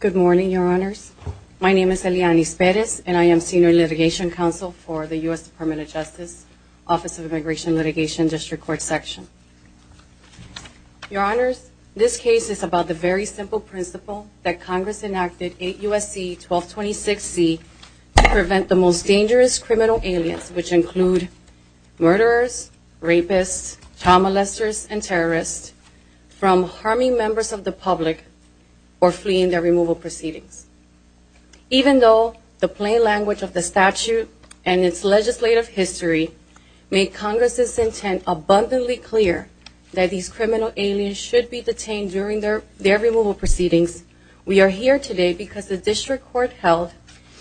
Good morning, Your Honors. My name is Elianis Perez, and I am Senior Litigation Counsel for the U.S. Department of Justice Office of Immigration and Litigation District Court Section. Your Honors, this case is about the very simple principle that Congress enacted 8 U.S.C. 1226C to prevent the most dangerous criminal aliens, which include murderers, rapists, child molesters, and terrorists from harming members of the public or fleeing their removal proceedings. Even though the plain language of the statute and its legislative history make Congress's intent abundantly clear that these criminal aliens should be detained during their removal proceedings, we are here today because the District Court held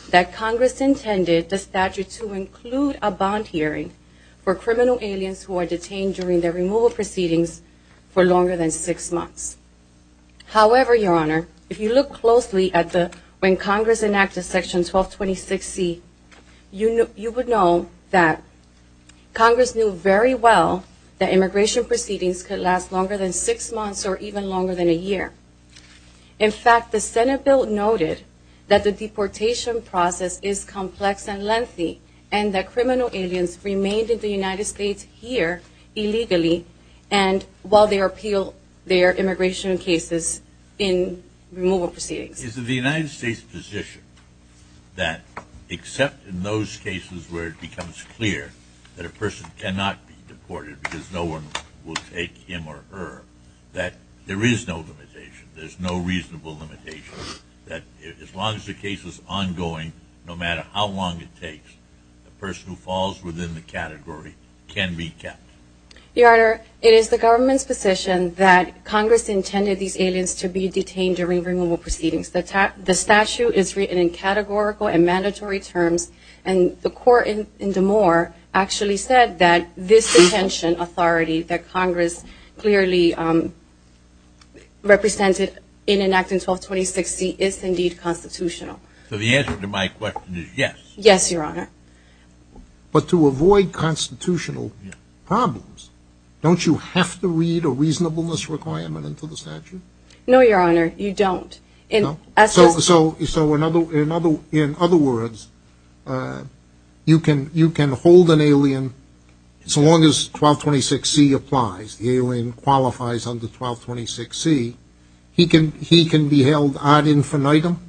that Congress intended the statute to include a bond hearing for criminal aliens who are detained during their removal proceedings for longer than six months. However, Your Honor, if you look closely at when Congress enacted Section 1226C, you would know that Congress knew very well that immigration proceedings could last longer than six months or even longer than a year. In fact, the Senate bill noted that the deportation process is complex and lengthy and that criminal aliens remained in the United States here illegally and while they appeal their immigration cases in removal proceedings. Is it the United States' position that except in those cases where it becomes clear that a person cannot be deported because no one will take him or her, that there is no limitation, there's no reasonable limitation, that as long as the case is ongoing, no matter how long it takes, a person who falls within the category can be kept? Your Honor, it is the government's position that Congress intended these aliens to be detained during removal proceedings. The statute is written in this detention authority that Congress clearly represented in an act in 1226C is indeed constitutional. So the answer to my question is yes. Yes, Your Honor. But to avoid constitutional problems, don't you have to read a reasonableness requirement into the statute? No, Your Honor, you So long as 1226C applies, the alien qualifies under 1226C, he can be held ad infinitum?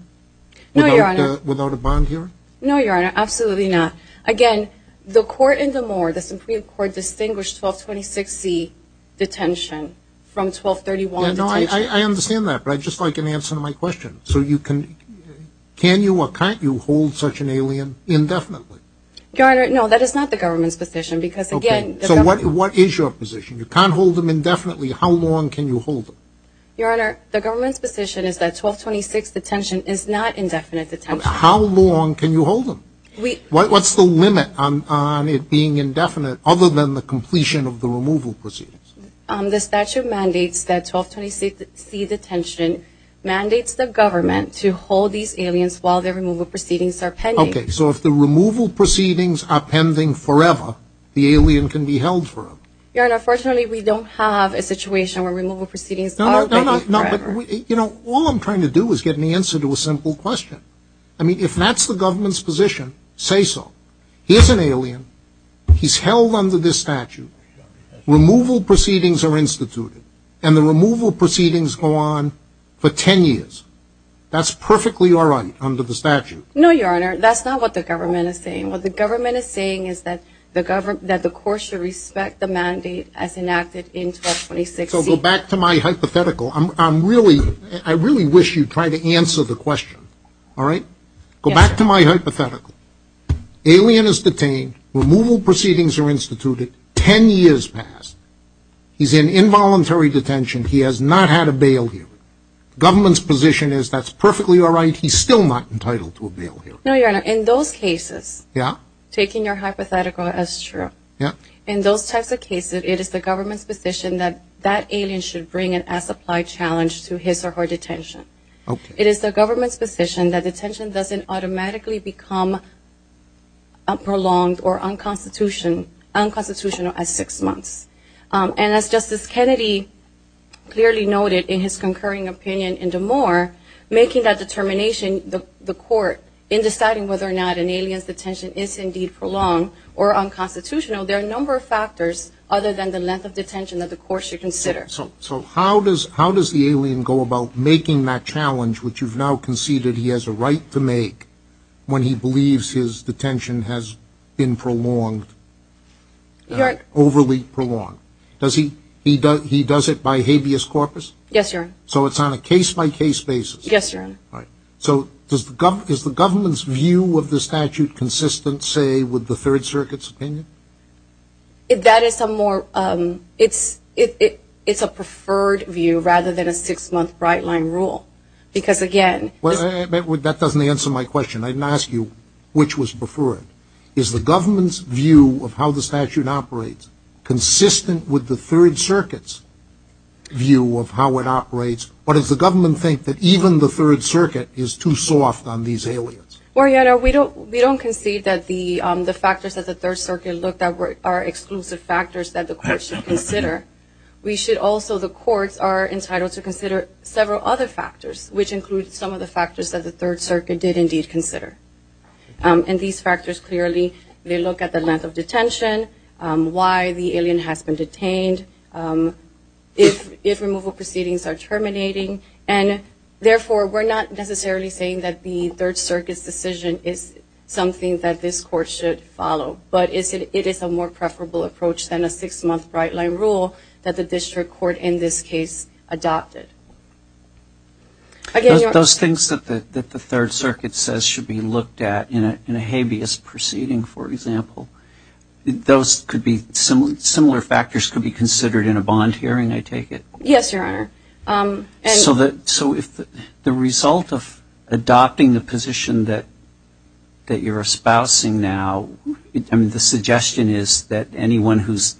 No, Your Honor. Without a bond hearing? No, Your Honor, absolutely not. Again, the court in Des Moines, the Supreme Court, distinguished 1226C detention from 1231. I understand that, but I'd just like an answer to my question. So you can, can you or can't you hold such an alien indefinitely? Your Honor, no, that is not the government's position because again... So what is your position? You can't hold them indefinitely. How long can you hold them? Your Honor, the government's position is that 1226 detention is not indefinite detention. How long can you hold them? What's the limit on it being indefinite other than the completion of the removal proceedings? The statute mandates that 1226C detention mandates the government to Okay, so if the removal proceedings are pending forever, the alien can be held forever? Your Honor, unfortunately, we don't have a situation where removal proceedings are pending forever. You know, all I'm trying to do is get an answer to a simple question. I mean, if that's the government's position, say so. Here's an alien, he's held under this statute, removal proceedings are instituted, and the removal proceedings go on for 10 years. That's perfectly all right under the statute. No, Your Honor, that's not what the government is saying. What the government is saying is that the court should respect the mandate as enacted in 1226C. So go back to my hypothetical. I really wish you'd try to answer the question, all right? Go back to my hypothetical. Alien is detained, removal proceedings are instituted, 10 years passed. He's in involuntary detention. He has not had a bail hearing. Government's position is that's perfectly all right. He's still not entitled to a bail hearing. No, Your Honor, in those cases, taking your hypothetical as true, in those types of cases, it is the government's position that that alien should bring an as-applied challenge to his or her detention. It is the government's position that detention doesn't automatically become prolonged or unconstitutional at six years. So in that determination, the court, in deciding whether or not an alien's detention is indeed prolonged or unconstitutional, there are a number of factors other than the length of detention that the court should consider. So how does the alien go about making that challenge which you've now conceded he has a right to make when he believes his detention has been prolonged, overly prolonged? He does it by habeas corpus? Yes, Your Honor. So it's on a case-by-case basis? Yes, Your Honor. So is the government's view of the statute consistent, say, with the Third Circuit's opinion? That is a more, it's a preferred view rather than a six-month bright-line rule. Because again... That doesn't answer my question. I didn't ask you which was preferred. Is the government's view of how the statute operates consistent with the Third Circuit is too soft on these aliens? Well, Your Honor, we don't concede that the factors that the Third Circuit looked at are exclusive factors that the court should consider. We should also, the courts are entitled to consider several other factors, which include some of the factors that the Third Circuit did indeed consider. And these factors clearly, they look at the length of detention, why the alien has been detained, if removal proceedings are terminating, and therefore, we're not necessarily saying that the Third Circuit's decision is something that this court should follow. But it is a more preferable approach than a six-month bright-line rule that the District Court in this case adopted. Again, Your Honor... Those things that the Third Circuit says should be looked at in a habeas proceeding, for example, those could be, similar factors could be considered in a bond hearing, I take it? Yes, Your Honor. So if the result of adopting the position that you're espousing now, the suggestion is that anyone who's,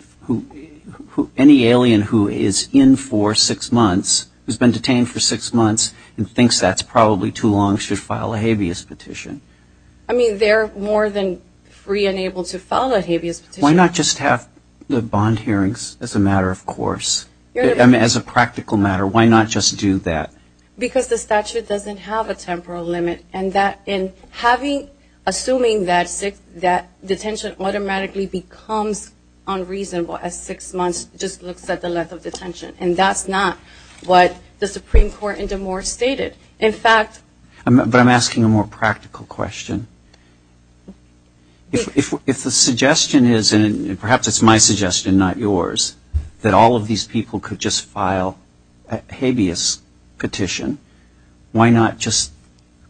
any alien who is in for six months, who's been detained for six months, and thinks that's probably too long, should file a habeas petition? I mean, they're more than free and able to file a habeas petition. Why not just have the bond hearings as a matter of course, as a practical matter, why not just do that? Because the statute doesn't have a temporal limit, and that in having, assuming that six, that detention automatically becomes unreasonable as six months just looks at the length of detention, and that's not what the Supreme Court in Des Moines stated. In fact... But I'm asking a more practical question. If the suggestion is, and perhaps it's my suggestion, not yours, that all of these people could just file a habeas petition, why not just,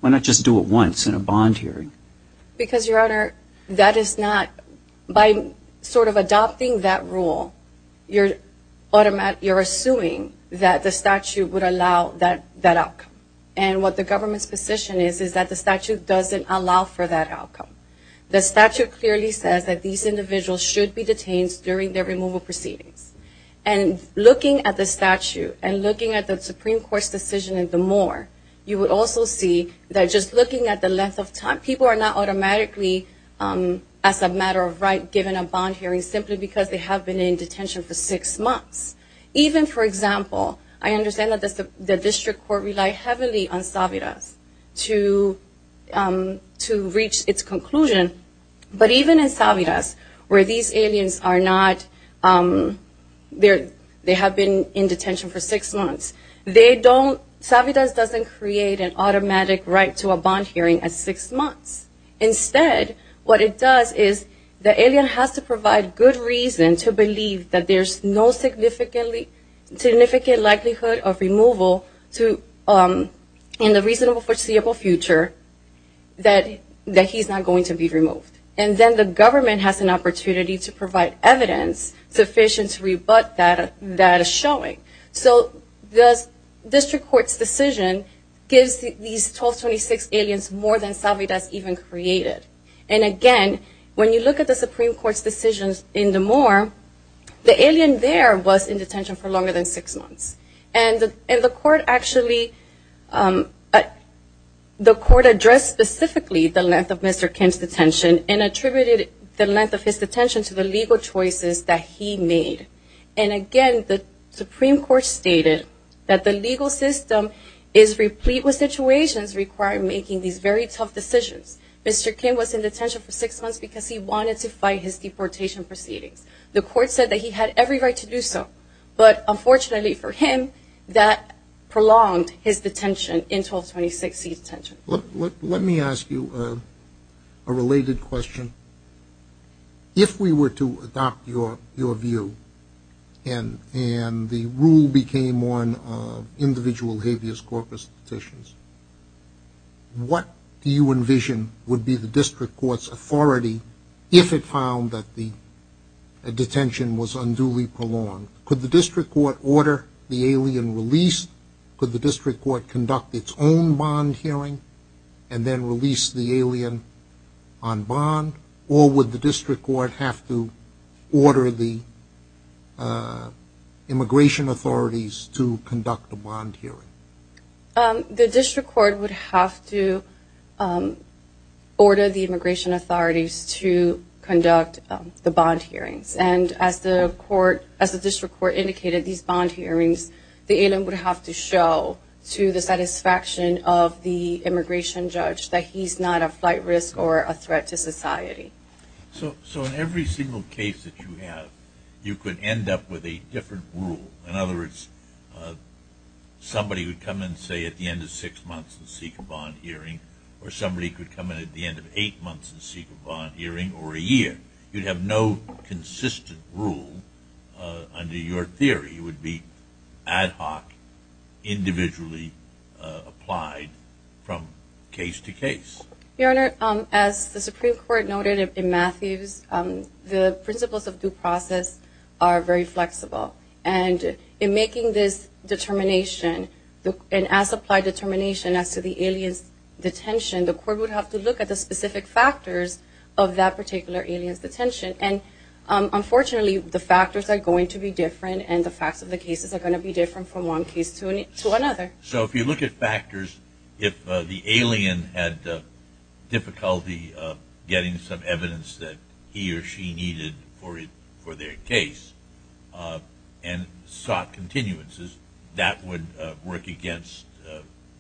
why not just do it once in a bond hearing? Because, Your Honor, that is not, by sort of adopting that rule, you're automatically, you're assuming that the statute would allow that outcome. And what the government's position is, is that the statute doesn't allow for that outcome. The statute clearly says that these individuals should be detained during their removal proceedings. And looking at the statute, and looking at the Supreme Court's decision in Des Moines, you would also see that just looking at the length of time, people are not automatically, as a matter of right, given a bond hearing simply because they have been in detention for six months. Even, for example, I understand that the district court relied heavily on Saviras to reach its conclusion. But even in Saviras, where these aliens are not, they have been in detention for six months, they don't, Saviras doesn't create an automatic right to a bond hearing at six months. Instead, what it does is the alien has to provide good reason to believe that there's no significant likelihood of removal to, in the reasonable foreseeable future, that he's not going to be removed. And then the government has an opportunity to provide evidence sufficient to rebut that showing. So the district court's decision gives these 1226 aliens more than Saviras even created. And again, when you look at the Supreme Court's decisions in Des Moines, the alien there was in court actually, the court addressed specifically the length of Mr. Kim's detention and attributed the length of his detention to the legal choices that he made. And again, the Supreme Court stated that the legal system is replete with situations requiring making these very tough decisions. Mr. Kim was in detention for six months because he wanted to fight his deportation proceedings. The court said that he had every right to do so. But unfortunately for him, that prolonged his detention in 1226 seat detention. Let me ask you a related question. If we were to adopt your view and the rule became on individual habeas corpus petitions, what do you envision would be the district court's authority if it found that the detention was unduly prolonged? Could the district court order the alien released? Could the district court conduct its own bond hearing and then release the alien on bond? Or would the district court have to order the immigration authorities to conduct a bond hearing? The district court would have to order the immigration authorities to conduct the bond hearings. And as the district court indicated, these bond hearings, the alien would have to show to the satisfaction of the immigration judge that he's not a flight risk or a threat to society. So in every single case that you have, you could end up with a different rule. In other words, somebody would come in, say, at the end of six months and seek a bond hearing, or somebody could come in at the end of eight months and seek a bond hearing, or a year. You'd have no consistent rule under your theory. It would be ad hoc, individually applied from case to case. Your Honor, as the Supreme Court noted in Matthews, the principles of due process are very flexible. And in making this determination, and as applied determination as to the alien's detention, the court would have to look at the specific factors of that particular alien's detention. And unfortunately, the factors are going to be different, and the facts of the cases are going to be different from one case to another. So if you look at factors, if the alien had difficulty getting some evidence that he or she sought continuances, that would work against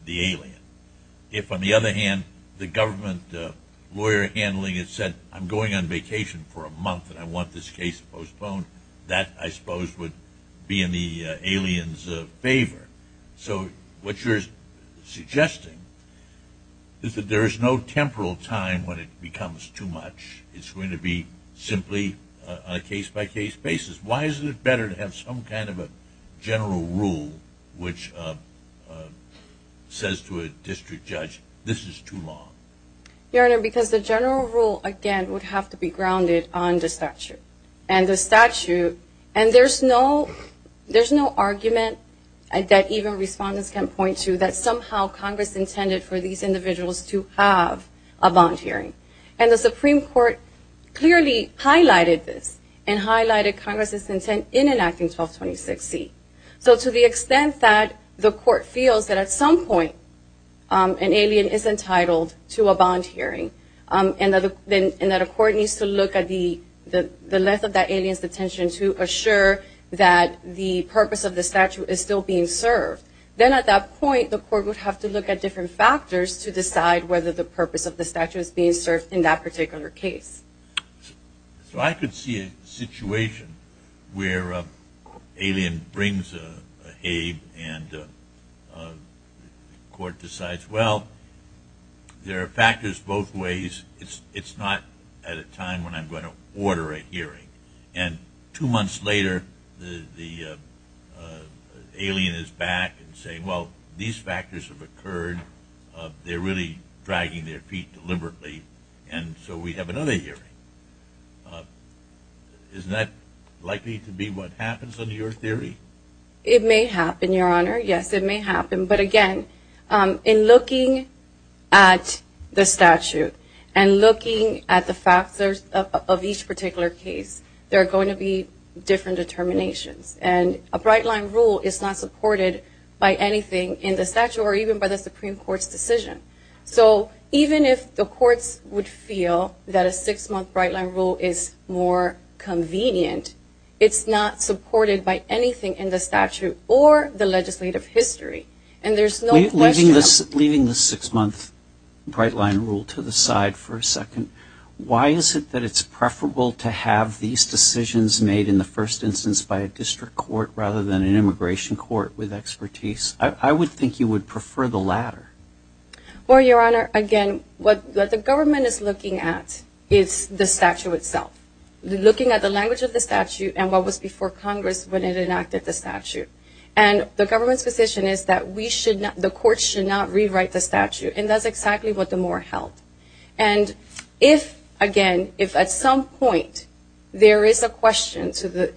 the alien. If, on the other hand, the government lawyer handling it said, I'm going on vacation for a month and I want this case postponed, that, I suppose, would be in the alien's favor. So what you're suggesting is that there is no temporal time when it becomes too much. It's going to be simply a case-by-case basis. Why is it better to have some kind of a general rule which says to a district judge, this is too long? Your Honor, because the general rule, again, would have to be grounded on the statute. And the statute, and there's no argument that even respondents can point to that somehow Congress intended for these individuals to have a bond hearing. And the Supreme Court clearly highlighted this and highlighted Congress's intent in enacting 1226C. So to the extent that the court feels that at some point an alien is entitled to a bond hearing and that a court needs to look at the length of that alien's detention to assure that the purpose of the statute is still being served, then at that point the court would have to look at different factors to decide whether the purpose of the statute is being served in that particular case. So I could see a situation where an alien brings a habe and the court decides, well, there are factors both ways. It's not at a time when I'm going to order a hearing. And two months later the alien is back and saying, well, these factors have occurred. They're really dragging their feet deliberately. And so we have another hearing. Isn't that likely to be what happens under your theory? It may happen, Your Honor. Yes, it may happen. But again, in looking at the statute and looking at the factors of each particular case, there are going to be different determinations. And a bright line rule is not supported by anything in the statute or even by a Supreme Court's decision. So even if the courts would feel that a six-month bright line rule is more convenient, it's not supported by anything in the statute or the legislative history. And there's no question. Leaving the six-month bright line rule to the side for a second, why is it that it's preferable to have these decisions made in the first instance by a district court rather than an immigration court with expertise? I would think you would prefer the latter. Well, Your Honor, again, what the government is looking at is the statute itself. Looking at the language of the statute and what was before Congress when it enacted the statute. And the government's position is that we should not, the courts should not rewrite the statute. And that's exactly what the Moore held. And if, again, if at some point there is a question to the,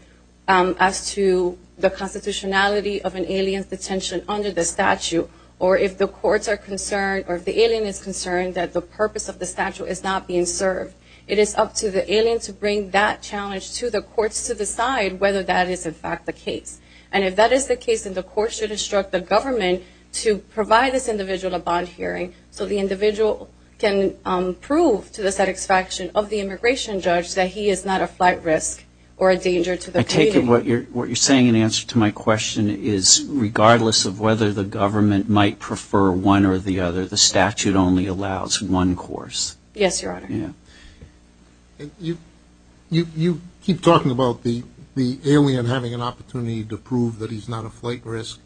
as to the constitutionality of an alien's detention under the statute or if the courts are concerned or if the alien is concerned that the purpose of the statute is not being served, it is up to the alien to bring that challenge to the courts to decide whether that is in fact the case. And if that is the case, then the courts should instruct the government to provide this individual a bond hearing so the individual can prove to the satisfaction of the immigration judge that he is not a flight risk or a danger to the community. I take it what you're saying in answer to my question is regardless of whether the government might prefer one or the other, the statute only allows one course. Yes, Your Honor. You keep talking about the alien having an opportunity to prove that he's not a flight risk,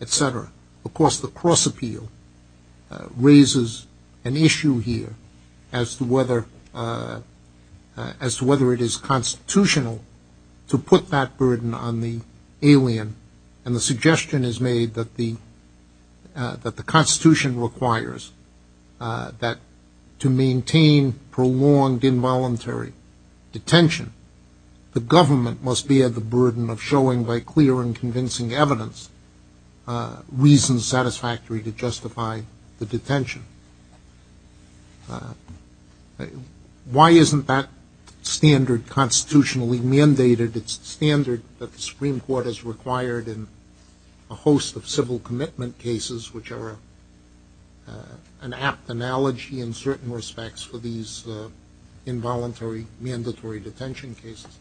etc. Of course, the cross appeal raises an issue here as to whether it is constitutional to put that burden on the alien. And the suggestion is made that the constitution requires that to maintain prolonged involuntary detention, the government must bear the burden of showing by clear and Why isn't that standard constitutionally mandated? It's the standard that the Supreme Court has required in a host of civil commitment cases, which are an apt analogy in certain respects for these involuntary mandatory detention cases.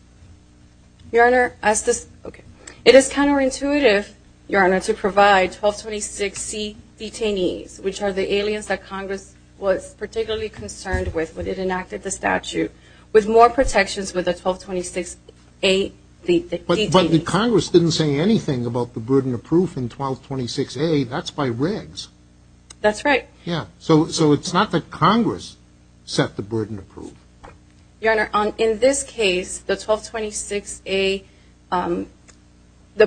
Your Honor, it is counterintuitive, Your Honor, to provide 1226C detainees, which are the aliens that Congress was particularly concerned with when it enacted the statute, with more protections with the 1226A detainees. But the Congress didn't say anything about the burden of proof in 1226A, that's by regs. That's right. Yeah, so it's not that Congress set the burden of proof. Your Honor, in this case, the procedures on the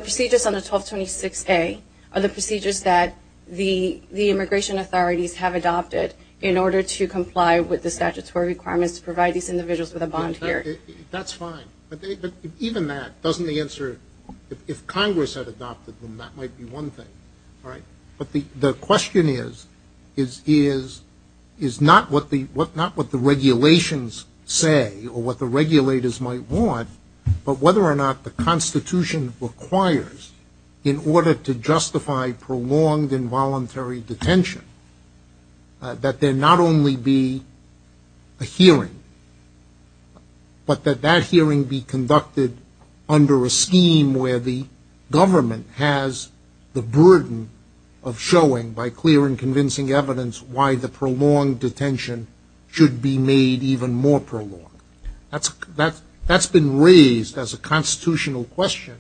1226A are the procedures that the immigration authorities have adopted in order to comply with the statutory requirements to provide these individuals with a bond here. That's fine. But even that, doesn't the answer, if Congress had adopted them, that might be one thing, right? But the question is, is not what the regulations say or what the regulators might want, but whether or not the Constitution requires, in order to justify prolonged involuntary detention, that there not only be a hearing, but that that hearing be conducted under a scheme where the government has the burden of showing, by clear and convincing evidence, why the prolonged detention should be made even more prolonged? That's been raised as a constitutional question,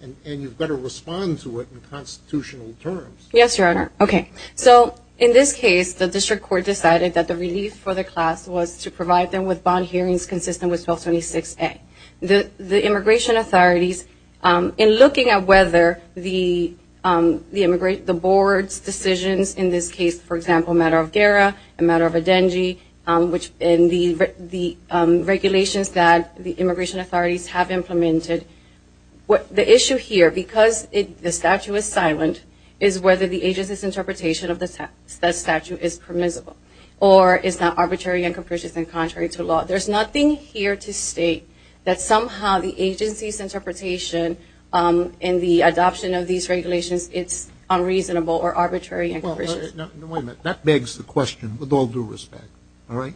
and you've got to respond to it in constitutional terms. Yes, Your Honor. Okay, so in this case, the district court decided that the relief for the class was to provide them with bond hearings consistent with 1226A. The immigration authorities, in looking at whether the board's decisions, in this case, for example, matter of GERA and matter of ADENGI, which in the regulations that the immigration authorities have implemented, the issue here, because the statute is silent, is whether the agency's interpretation of the statute is permissible or is that arbitrary and capricious and contrary to law. There's nothing here to state that somehow the agency's interpretation in the adoption of these regulations, it's unreasonable or arbitrary and capricious. No, wait a minute. That begs the question, with all due respect, all right?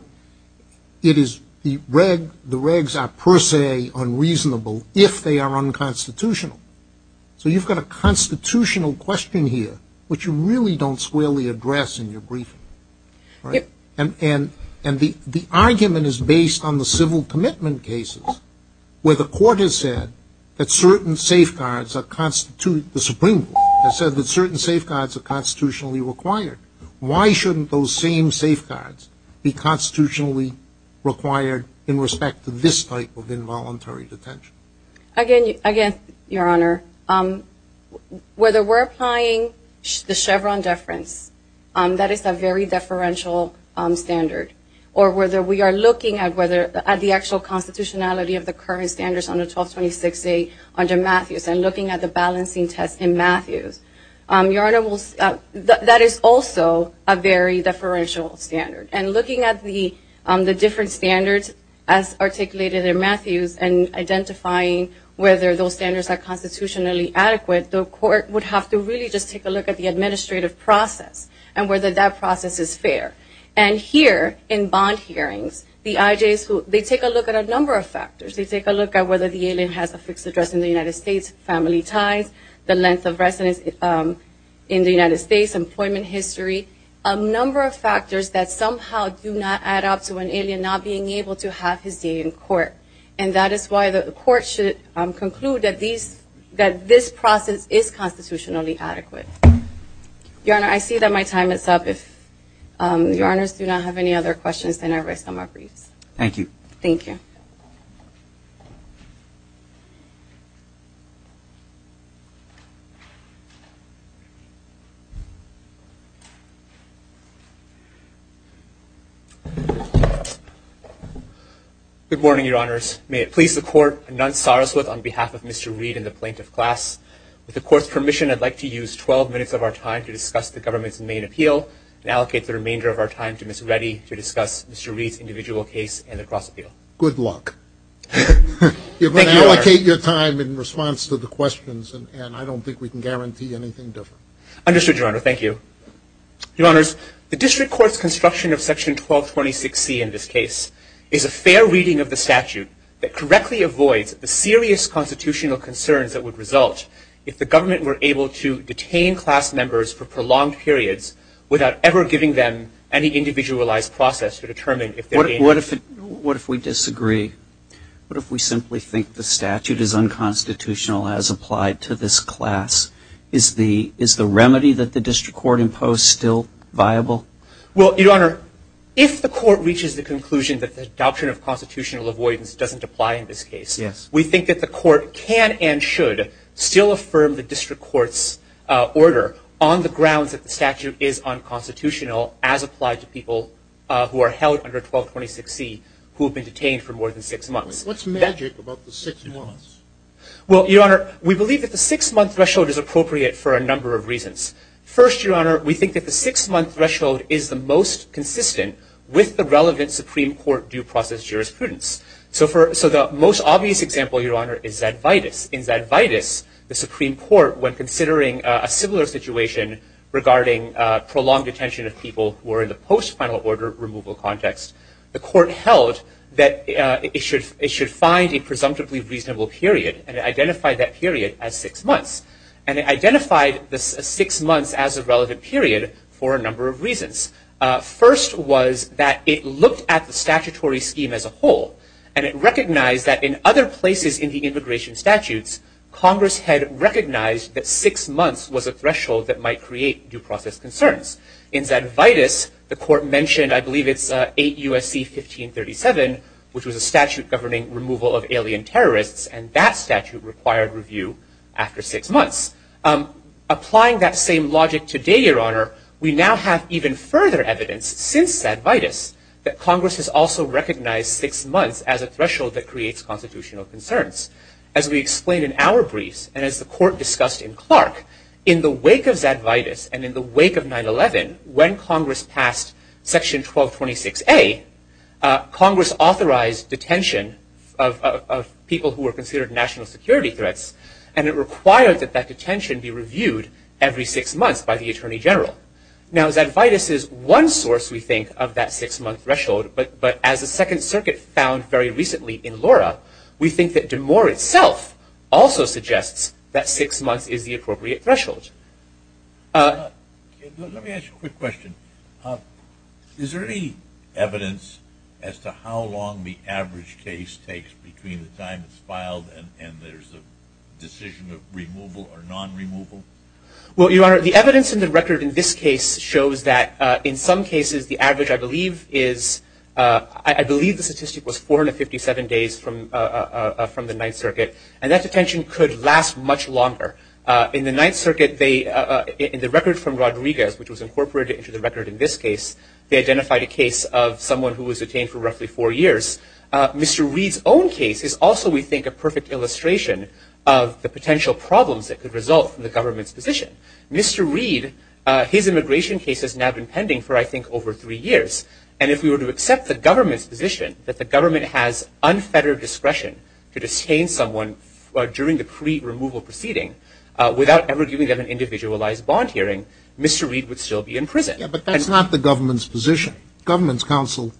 The regs are, per se, unreasonable if they are unconstitutional. So you've got a constitutional question here, which you really don't squarely address in your briefing, right? And the argument is based on the civil commitment cases, where the court has said that certain safeguards constitute the Supreme Court. It says that certain safeguards are constitutionally required. Why shouldn't those same safeguards be constitutionally required in respect to this type of involuntary detention? Again, Your Honor, whether we're applying the Chevron deference, that is a very deferential standard. Or whether we are looking at the actual constitutionality of the current standards under 1226A under Matthews and looking at the balancing test in Matthews, Your Honor, that is also a very deferential standard. And looking at the different standards as articulated in Matthews and identifying whether those standards are constitutionally adequate, the court would have to really just take a look at the administrative process and whether that process is fair. And here in bond hearings, the IJs, they take a look at a number of factors. They take a look at whether the alien has a fixed address in the United States, family ties, the length of residence in the United States, employment history, a number of factors that somehow do not add up to an alien not being able to have his day in court. And that is why the court should conclude that this process is constitutionally adequate. Your Honor, I see that my time is up. If Your Honors do not have any other questions, then I rise on my briefs. Thank you. Thank you. Good morning, Your Honors. May it please the court, Anant Saraswat on behalf of Mr. Reed and the plaintiff class. With the court's permission, I'd like to use 12 minutes of our time to discuss the government's main appeal and allocate the remainder of our time to Ms. Reddy to discuss Mr. Reed's individual case and the cross appeal. Good luck. You're going to allocate your time in response to the questions, and I don't think we can guarantee anything different. Understood, Your Honor. Thank you. Your Honors, the district court's construction of section 1226C in this case is a fair reading of the statute that correctly avoids the serious constitutional concerns that would result if the government were able to detain class members for prolonged periods without ever giving them any individualized process to determine if they're being What if we disagree? What if we simply think the statute is unconstitutional as applied to class? Is the remedy that the district court imposed still viable? Well, Your Honor, if the court reaches the conclusion that the adoption of constitutional avoidance doesn't apply in this case, we think that the court can and should still affirm the district court's order on the grounds that the statute is unconstitutional as applied to people who are held under 1226C who have been detained for more than six months. What's magic about the six months? Well, Your Honor, we believe that the six-month threshold is appropriate for a number of reasons. First, Your Honor, we think that the six-month threshold is the most consistent with the relevant Supreme Court due process jurisprudence. So the most obvious example, Your Honor, is Zadvitas. In Zadvitas, the Supreme Court, when considering a similar situation regarding prolonged detention of people who are in the post-final order removal context, the court held that it should find a presumptively reasonable period and it identified that period as six months. And it identified the six months as a relevant period for a number of reasons. First was that it looked at the statutory scheme as a whole, and it recognized that in other places in the immigration statutes, Congress had recognized that six months was a threshold that might create due process concerns. In Zadvitas, the court mentioned, I believe it's 8 U.S.C. 1537, which was a statute governing removal of alien terrorists, and that statute required review after six months. Applying that same logic today, Your Honor, we now have even further evidence since Zadvitas that Congress has also recognized six months as a threshold that creates constitutional concerns. As we explained in our briefs, and as the court discussed in Clark, in the wake of Zadvitas and in the wake of 9-11, when Congress passed Section 1226A, Congress authorized detention of people who were considered national security threats, and it required that that detention be reviewed every six months by the Attorney General. Now Zadvitas is one source, we think, of that six-month threshold, but as the Second Circuit found very recently in Lora, we think that DeMoor itself also suggests that six months is the appropriate threshold. Let me ask you a quick question. Is there any evidence as to how long the average case takes between the time it's filed and there's a decision of removal or non-removal? Well, Your Honor, the evidence in the record in this case shows that in some cases the average, I believe, is, I believe the statistic was 457 days from the Ninth Circuit, and that detention could last much longer. In the Ninth Circuit, in the record from Rodriguez, which was incorporated into the record in this case, they identified a case of someone who was detained for roughly four years. Mr. Reid's own case is also, we think, a perfect illustration of the potential problems that could result from the government's position. Mr. Reid, his immigration case has now been pending for, I think, over three years, and if we were to accept the government's unfettered discretion to detain someone during the pre-removal proceeding without ever giving them an individualized bond hearing, Mr. Reid would still be in prison. Yeah, but that's not the government's position. Government's counsel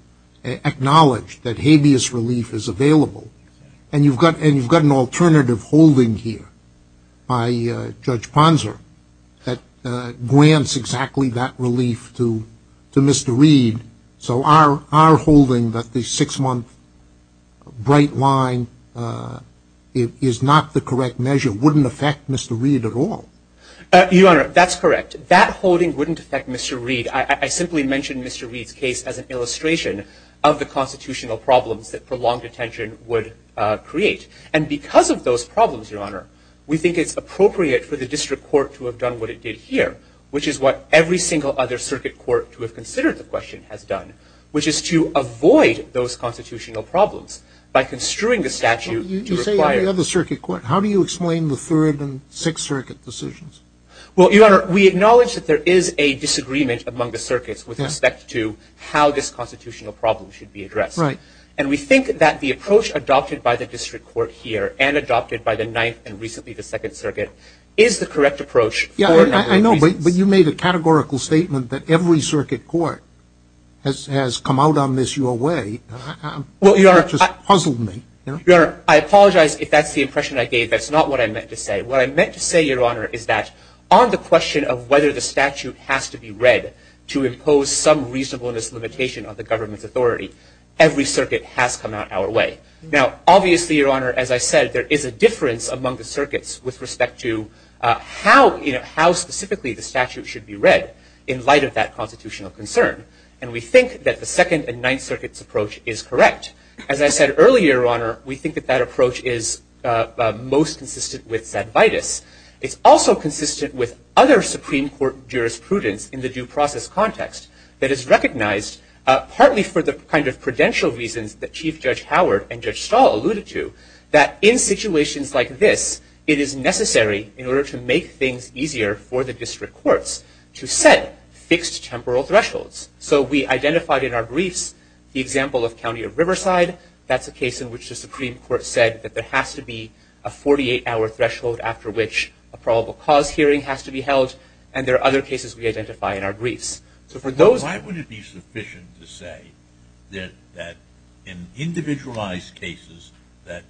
acknowledged that habeas relief is available, and you've got an alternative holding here by Judge Ponzer that grants exactly that relief to Mr. Reid, so our holding that the six-month bright line is not the correct measure wouldn't affect Mr. Reid at all. Your Honor, that's correct. That holding wouldn't affect Mr. Reid. I simply mentioned Mr. Reid's case as an illustration of the constitutional problems that prolonged detention would create, and because of those problems, Your Honor, we think it's appropriate for the District Court to have done what it did here, which is what every single other circuit court to have considered the question has done, which is to avoid those constitutional problems by construing the statute to require... You say every other circuit court. How do you explain the Third and Sixth Circuit decisions? Well, Your Honor, we acknowledge that there is a disagreement among the circuits with respect to how this constitutional problem should be addressed. Right. And we think that the approach adopted by the District Court here and adopted by the Ninth and recently the Second Circuit is the correct approach for a number of reasons. Yeah, I know, but you made a categorical statement that every circuit court has come out on this your way. Well, Your Honor... It just puzzled me. Your Honor, I apologize if that's the impression I gave. That's not what I meant to say. What I meant to say, Your Honor, is that on the question of whether the statute has to be read to impose some reasonableness limitation on the government's authority, every circuit has come out our way. Now, obviously, Your Honor, as I said, there is a the statute should be read in light of that constitutional concern. And we think that the Second and Ninth Circuit's approach is correct. As I said earlier, Your Honor, we think that that approach is most consistent with Zadvitas. It's also consistent with other Supreme Court jurisprudence in the due process context that is recognized partly for the kind of credential reasons that Chief Judge Howard and Judge Stahl alluded to, that in situations like this, it is necessary in order to make things easier for the district courts to set fixed temporal thresholds. So we identified in our briefs the example of County of Riverside. That's a case in which the Supreme Court said that there has to be a 48-hour threshold after which a probable cause hearing has to be held. And there are other cases we identify in our briefs. So for those... sufficient to say that in individualized cases that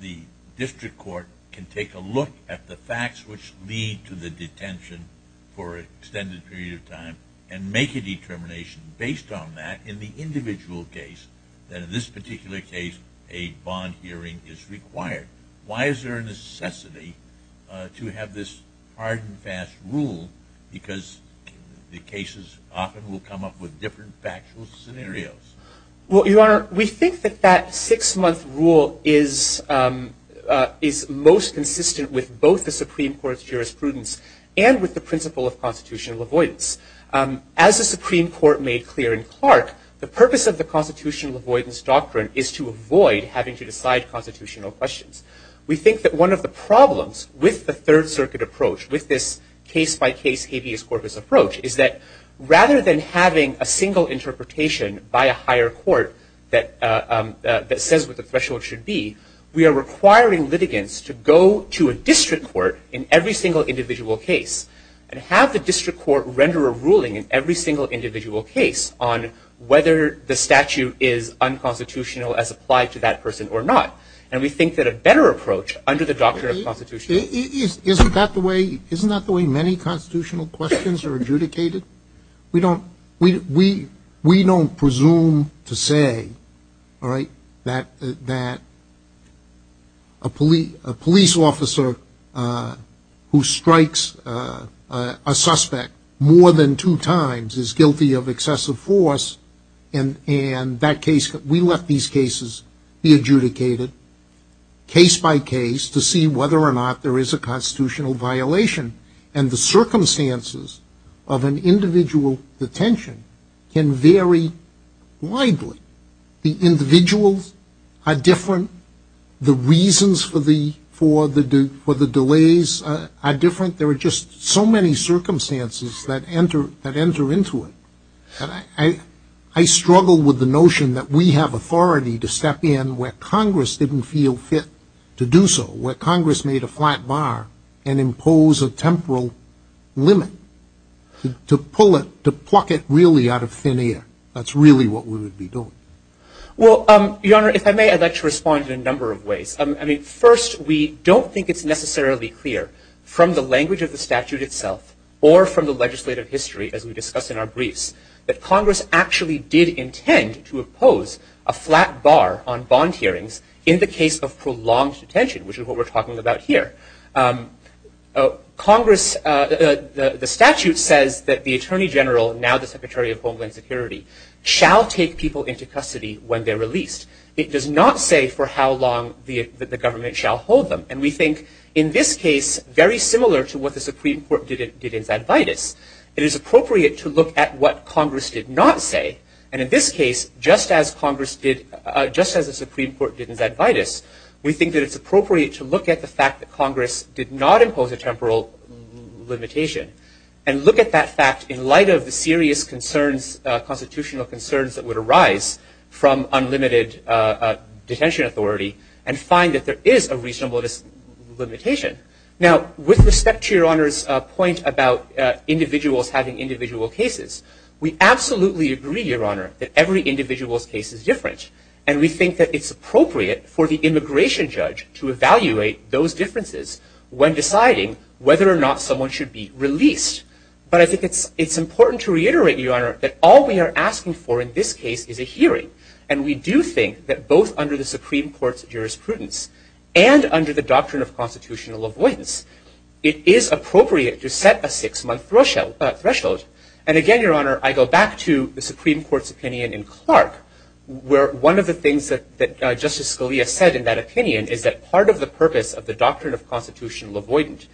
the district court can take a look at the facts which lead to the detention for an extended period of time and make a determination based on that in the individual case that in this particular case a bond hearing is required. Why is there a different factual scenario? Well, Your Honor, we think that that six-month rule is most consistent with both the Supreme Court's jurisprudence and with the principle of constitutional avoidance. As the Supreme Court made clear in Clark, the purpose of the constitutional avoidance doctrine is to avoid having to decide constitutional questions. We think that one of the problems with the Third Circuit approach, with this case-by-case habeas corpus approach, is that rather than having a single interpretation by a higher court that says what the threshold should be, we are requiring litigants to go to a district court in every single individual case and have the district court render a ruling in every single individual case on whether the statute is unconstitutional as applied to that person or not. And we think that a better approach under the doctrine of constitutional... Isn't that the way... isn't that the way many constitutional questions are adjudicated? We don't presume to say that a police officer who strikes a suspect more than two times is guilty of excessive force, and we let these cases be adjudicated case-by-case to see whether or not there is a constitutional violation. And the circumstances of an individual detention can vary widely. The individuals are different. The reasons for the delays are different. There are just so many circumstances that enter into it. I struggle with the notion that we have authority to step in where Congress didn't feel fit to do so, where Congress made a flat bar and impose a temporal limit to pull it, to pluck it really out of thin air. That's really what we would be doing. Well, Your Honor, if I may, I'd like to respond in a number of ways. I mean, first, we don't think it's necessarily clear from the language of the statute itself or from the legislative history, as we discussed in our briefs, that Congress actually did intend to impose a flat bar on bond hearings in the case of prolonged detention, which is what we're talking about here. The statute says that the Attorney General, now the Secretary of Homeland Security, shall take people into custody when they're released. It does not say for how long the government shall hold them. And we think, in this case, very similar to what the Supreme Court did in Zadvydas, it is appropriate to look at what Congress did not say. And in this case, just as Congress did, just as the Supreme Court did in Zadvydas, we think that it's appropriate to look at the fact that Congress did not impose a temporal limitation and look at that fact in light of the serious concerns, constitutional concerns, that would arise from unlimited detention authority and find that there is a reasonable limitation. Now, with respect to Your Honor's point about individuals having individual cases, we absolutely agree, Your Honor, that every individual's case is different. And we think that it's appropriate for the immigration judge to evaluate those differences when deciding whether or not someone should be released. But I think it's important to reiterate, Your Honor, that all we are asking for in this case is a hearing. And we do think that both under the Supreme Court's jurisprudence and under the Six-Month Threshold. And again, Your Honor, I go back to the Supreme Court's opinion in Clark, where one of the things that Justice Scalia said in that opinion is that part of the purpose of the doctrine of constitutional avoidance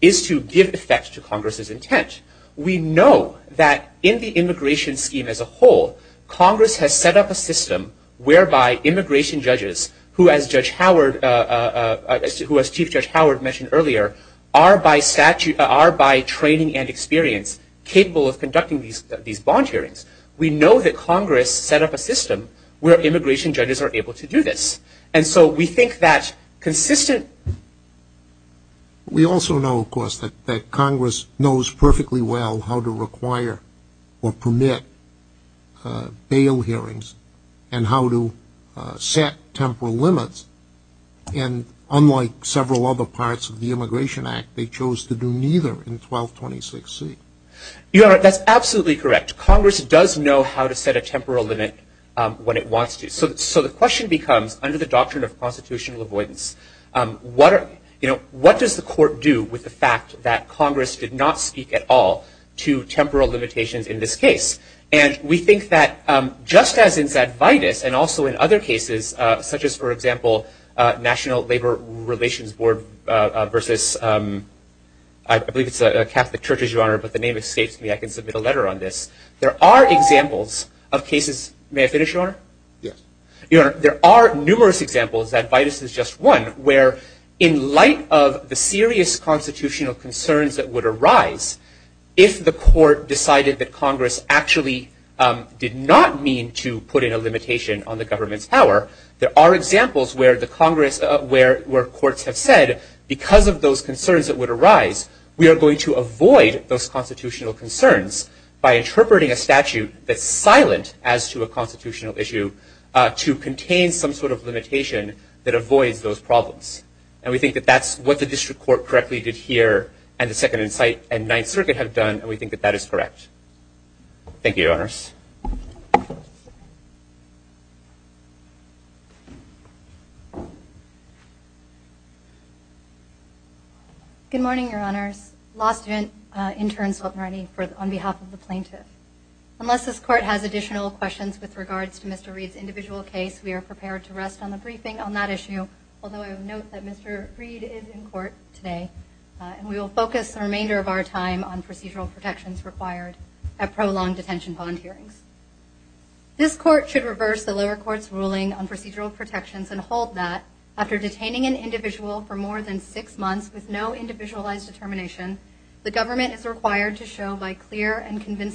is to give effect to Congress's intent. We know that in the immigration scheme as a whole, Congress has set up a system whereby immigration judges, who, as Chief Judge Howard mentioned earlier, are by training and experience capable of conducting these bond hearings. We know that Congress set up a system where immigration judges are able to do this. And so we think that consistent... We also know, of course, that Congress knows perfectly well how to require or permit bail hearings and how to set temporal limits. And unlike several other parts of the Immigration Act, they chose to do neither in 1226C. Your Honor, that's absolutely correct. Congress does know how to set a temporal limit when it wants to. So the question becomes, under the doctrine of constitutional avoidance, what does the Court do with the fact that Congress did not speak at all to temporal limitations in this case? And we think that just as in Zadvidus and also in other cases, such as, for example, National Labor Relations Board versus... I believe it's a Catholic Church, Your Honor, but the name escapes me. I can submit a letter on this. There are examples of cases... May I finish, Your Honor? Yes. Your Honor, there are numerous examples. Zadvidus is just one, where in light of the serious constitutional concerns that would arise, if the Court decided that Congress actually did not mean to put in a limitation on the government's power, there are examples where the Congress... Where courts have said, because of those concerns that would arise, we are going to avoid those constitutional concerns by interpreting a statute that's silent as to a constitutional issue to contain some sort of limitation that and we think that that's what the District Court correctly did here, and the Second Insight and Ninth Circuit have done, and we think that that is correct. Thank you, Your Honors. Good morning, Your Honors. Law student, intern Swetmarni, on behalf of the plaintiff. Unless this Court has additional questions with regards to Mr. Reed's individual case, we are prepared to rest on the briefing on that issue, although I will note that Mr. Reed is in court today, and we will focus the remainder of our time on procedural protections required at prolonged detention bond hearings. This Court should reverse the lower court's ruling on procedural protections and hold that, after detaining an individual for more than six months with no individualized determination, the government is required to show by clear and cannot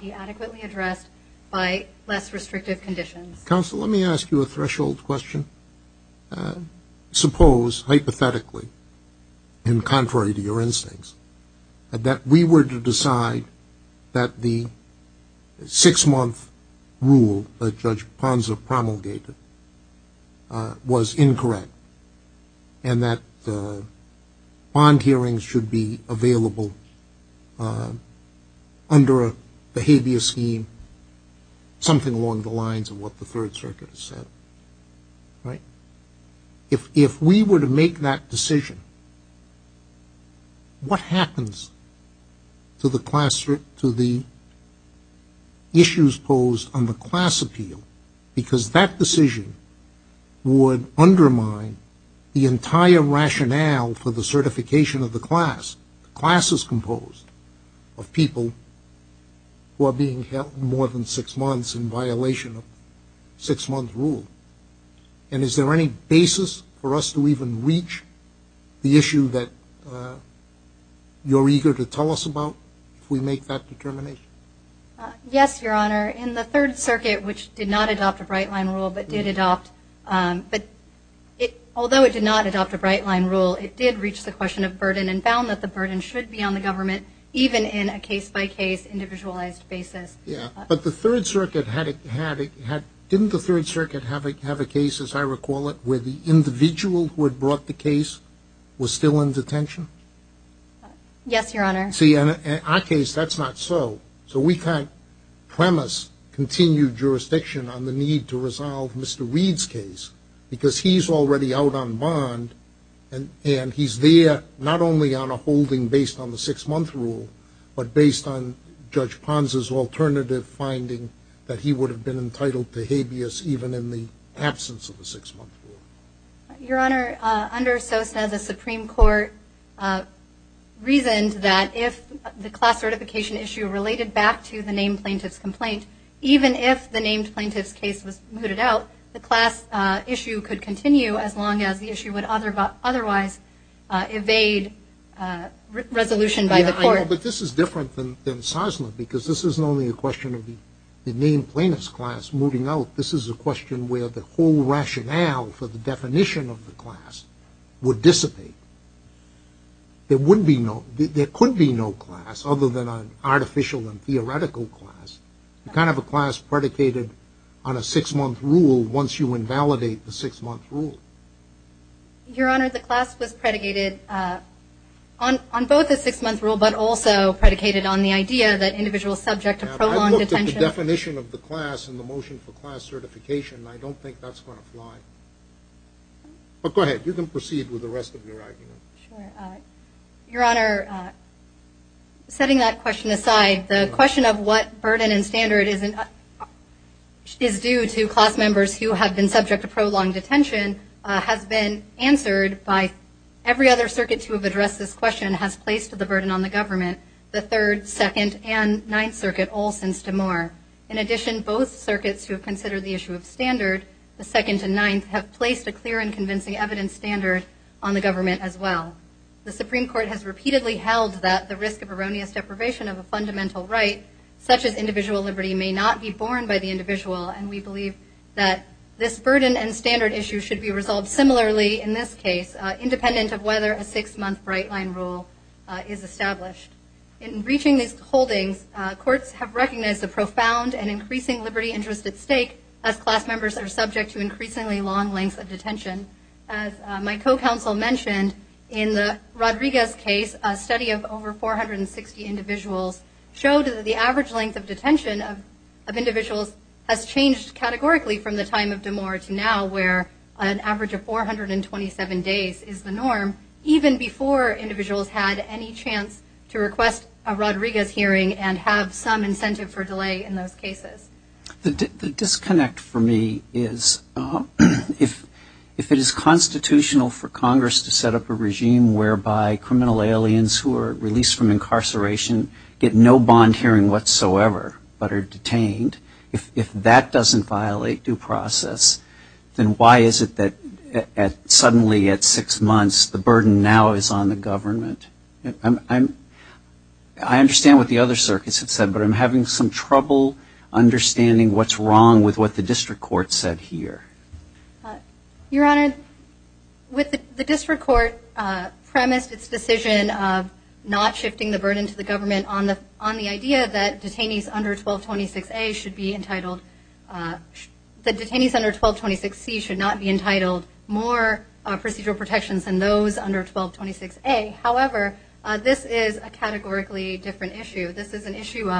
be adequately addressed by less restrictive conditions. Counsel, let me ask you a threshold question. Suppose, hypothetically, and contrary to your instincts, that we were to decide that the six-month rule that Judge Ponza promulgated was incorrect, and that bond hearings should be available under a behavior scheme, something along the lines of what the Third Circuit has said, right? If we were to make that decision, what happens to the issues posed on the class appeal? Because that decision would undermine the entire rationale for the certification of the class, the classes composed of people who are being held more than six months in violation of six-month rule. And is there any basis for us to even reach the issue that you're eager to tell us about if we make that determination? Yes, Your Honor. In the Third Circuit, which did not adopt a bright-line rule, but did adopt, but it, although it did not adopt a bright-line rule, it did reach the question of burden and found that the burden should be on the government, even in a case-by-case, individualized basis. Yeah, but the Third Circuit had, didn't the Third Circuit have a case, as I recall it, where the individual who had brought the case was still in detention? Yes, Your Honor. See, in our case, that's not so. So we can't premise continued jurisdiction on the need to resolve Mr. Reed's case, because he's already out on bond, and he's there not only on a holding based on the six-month rule, but based on Judge Pons's alternative finding that he would have been entitled to habeas even in the absence of the six-month rule. Your Honor, under Sosna, the Supreme Court reasoned that if the class certification issue related back to the named plaintiff's complaint, even if the named plaintiff's case was mooted out, the class issue could continue as long as the issue would otherwise evade resolution by the court. But this is different than Sosna, because this isn't only a question of the named plaintiff's class moving out. This is a question where the whole rationale for the definition of the class would dissipate. There would be no, there could be no class other than an artificial and theoretical class, the kind of a class predicated on a six-month rule once you invalidate the six-month rule. Your Honor, the class was predicated on both a six-month rule, but also predicated on the idea that individuals subject to prolonged detention. I looked at the definition of the class and the motion for class certification, and I don't think that's going to fly. But go ahead. You can proceed with the rest of your argument. Sure. Your Honor, setting that question aside, the question of what burden and standard is due to class members who have been subject to prolonged detention has been answered by every other circuit to have addressed this question has placed the burden on the government, the Third, Second, and Ninth Circuit all since DeMar. In addition, both circuits who have considered the issue of standard, the Second and Ninth, have placed a clear and convincing evidence standard on the government as well. The Supreme Court has repeatedly held that the risk of erroneous deprivation of a fundamental right, such as individual liberty, may not be borne by the individual. And we believe that this burden and standard issue should be resolved similarly in this case, independent of whether a six-month bright line rule is established. In reaching these holdings, courts have recognized a profound and increasing liberty interest at stake as class members are subject to increasingly long lengths of detention. As my co-counsel mentioned, in the Rodriguez case, a study of over 460 individuals showed that the average length of detention of individuals has changed categorically from the time of DeMar to now, where an average of 427 days is the norm, even before individuals had any chance to request a Rodriguez hearing and have some incentive for delay in those cases. The disconnect for me is if it is constitutional for Congress to set up a regime whereby criminal aliens who are released from incarceration get no bond hearing whatsoever, but are detained, if that doesn't violate due process, then why is it that suddenly at six months the burden now is on the government? I understand what the other circuits have said, but I'm having some trouble understanding what's wrong with what the district court said here. Your Honor, the district court premised its decision of not shifting the burden to the idea that detainees under 1226C should not be entitled more procedural protections than those under 1226A. However, this is a categorically different issue. This is an issue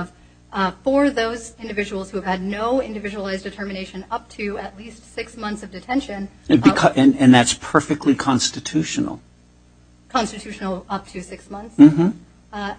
for those individuals who have had no individualized determination up to at least six months of detention. And that's perfectly constitutional. Constitutional up to six months. Uh,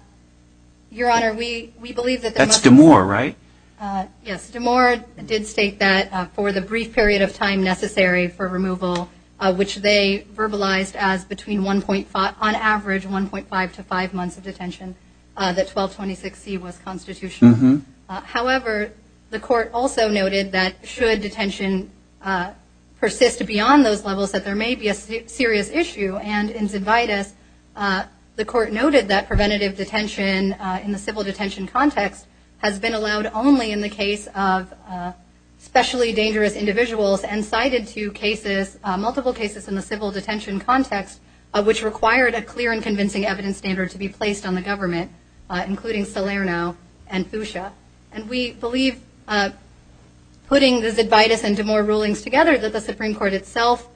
Your Honor, we, we believe that that's Demore, right? Uh, yes. Demore did state that for the brief period of time necessary for removal, uh, which they verbalized as between 1.5 on average, 1.5 to five months of detention, uh, that 1226C was constitutional. Uh, however, the court also noted that should detention, uh, persist beyond those levels that there may be a serious issue. And in Zidvitas, uh, the court noted that preventative detention, uh, in the civil detention context has been allowed only in the case of, uh, specially dangerous individuals and cited two cases, uh, multiple cases in the civil detention context, uh, which required a clear and convincing evidence standard to be placed on the government, uh, including Salerno and Fuchsia. And we believe, uh, putting the Zidvitas and Demore rulings together that the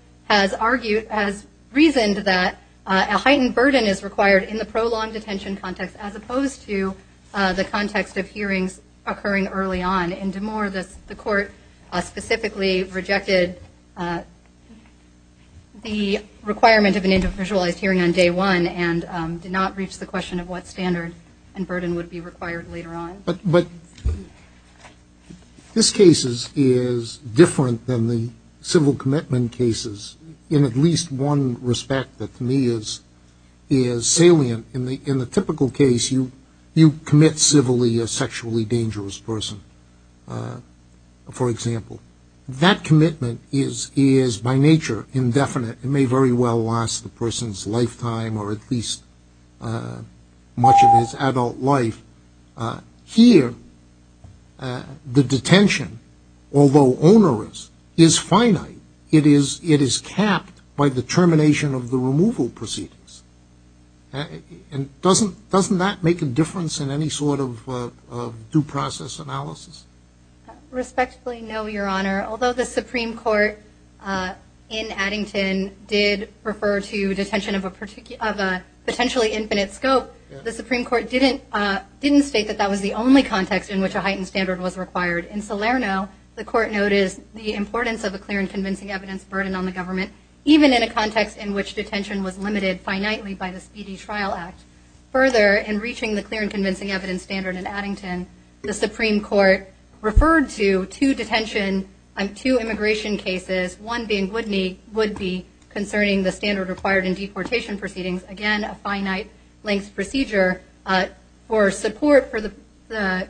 has reasoned that, uh, a heightened burden is required in the prolonged detention context, as opposed to, uh, the context of hearings occurring early on. In Demore, the court, uh, specifically rejected, uh, the requirement of an individualized hearing on day one and, um, did not reach the question of what standard and burden would be required later on. But, but this case is, is different than the civil commitment cases in at least one respect that to me is, is salient. In the, in the typical case, you, you commit civilly a sexually dangerous person. Uh, for example, that commitment is, is by nature indefinite. It may very well last the person's lifetime or at least, uh, much of his adult life. Uh, here, uh, the detention, although onerous, is finite. It is, it is capped by the termination of the removal proceedings. And doesn't, doesn't that make a difference in any sort of, uh, of due process analysis? Respectfully, no, Your Honor. Although the Supreme Court, uh, in Addington did refer to detention of a particular, of a potentially infinite scope, the Supreme Court didn't, uh, didn't state that that was the only context in which a heightened standard was required. In Salerno, the court noticed the importance of a clear and convincing evidence burden on the government, even in a context in which detention was limited finitely by the Speedy Trial Act. Further, in reaching the clear and convincing evidence standard in Addington, the Supreme Court referred to two detention, um, two immigration cases, one being Woodney, would be concerning the standard required in deportation proceedings. Again, a finite length procedure, uh, for support for the, the,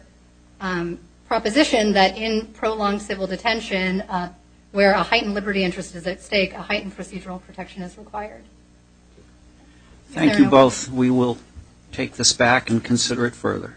um, proposition that in prolonged civil detention, uh, where a heightened liberty interest is at stake, a heightened procedural protection is required. Thank you both. We will take this back and consider it further. Thank you.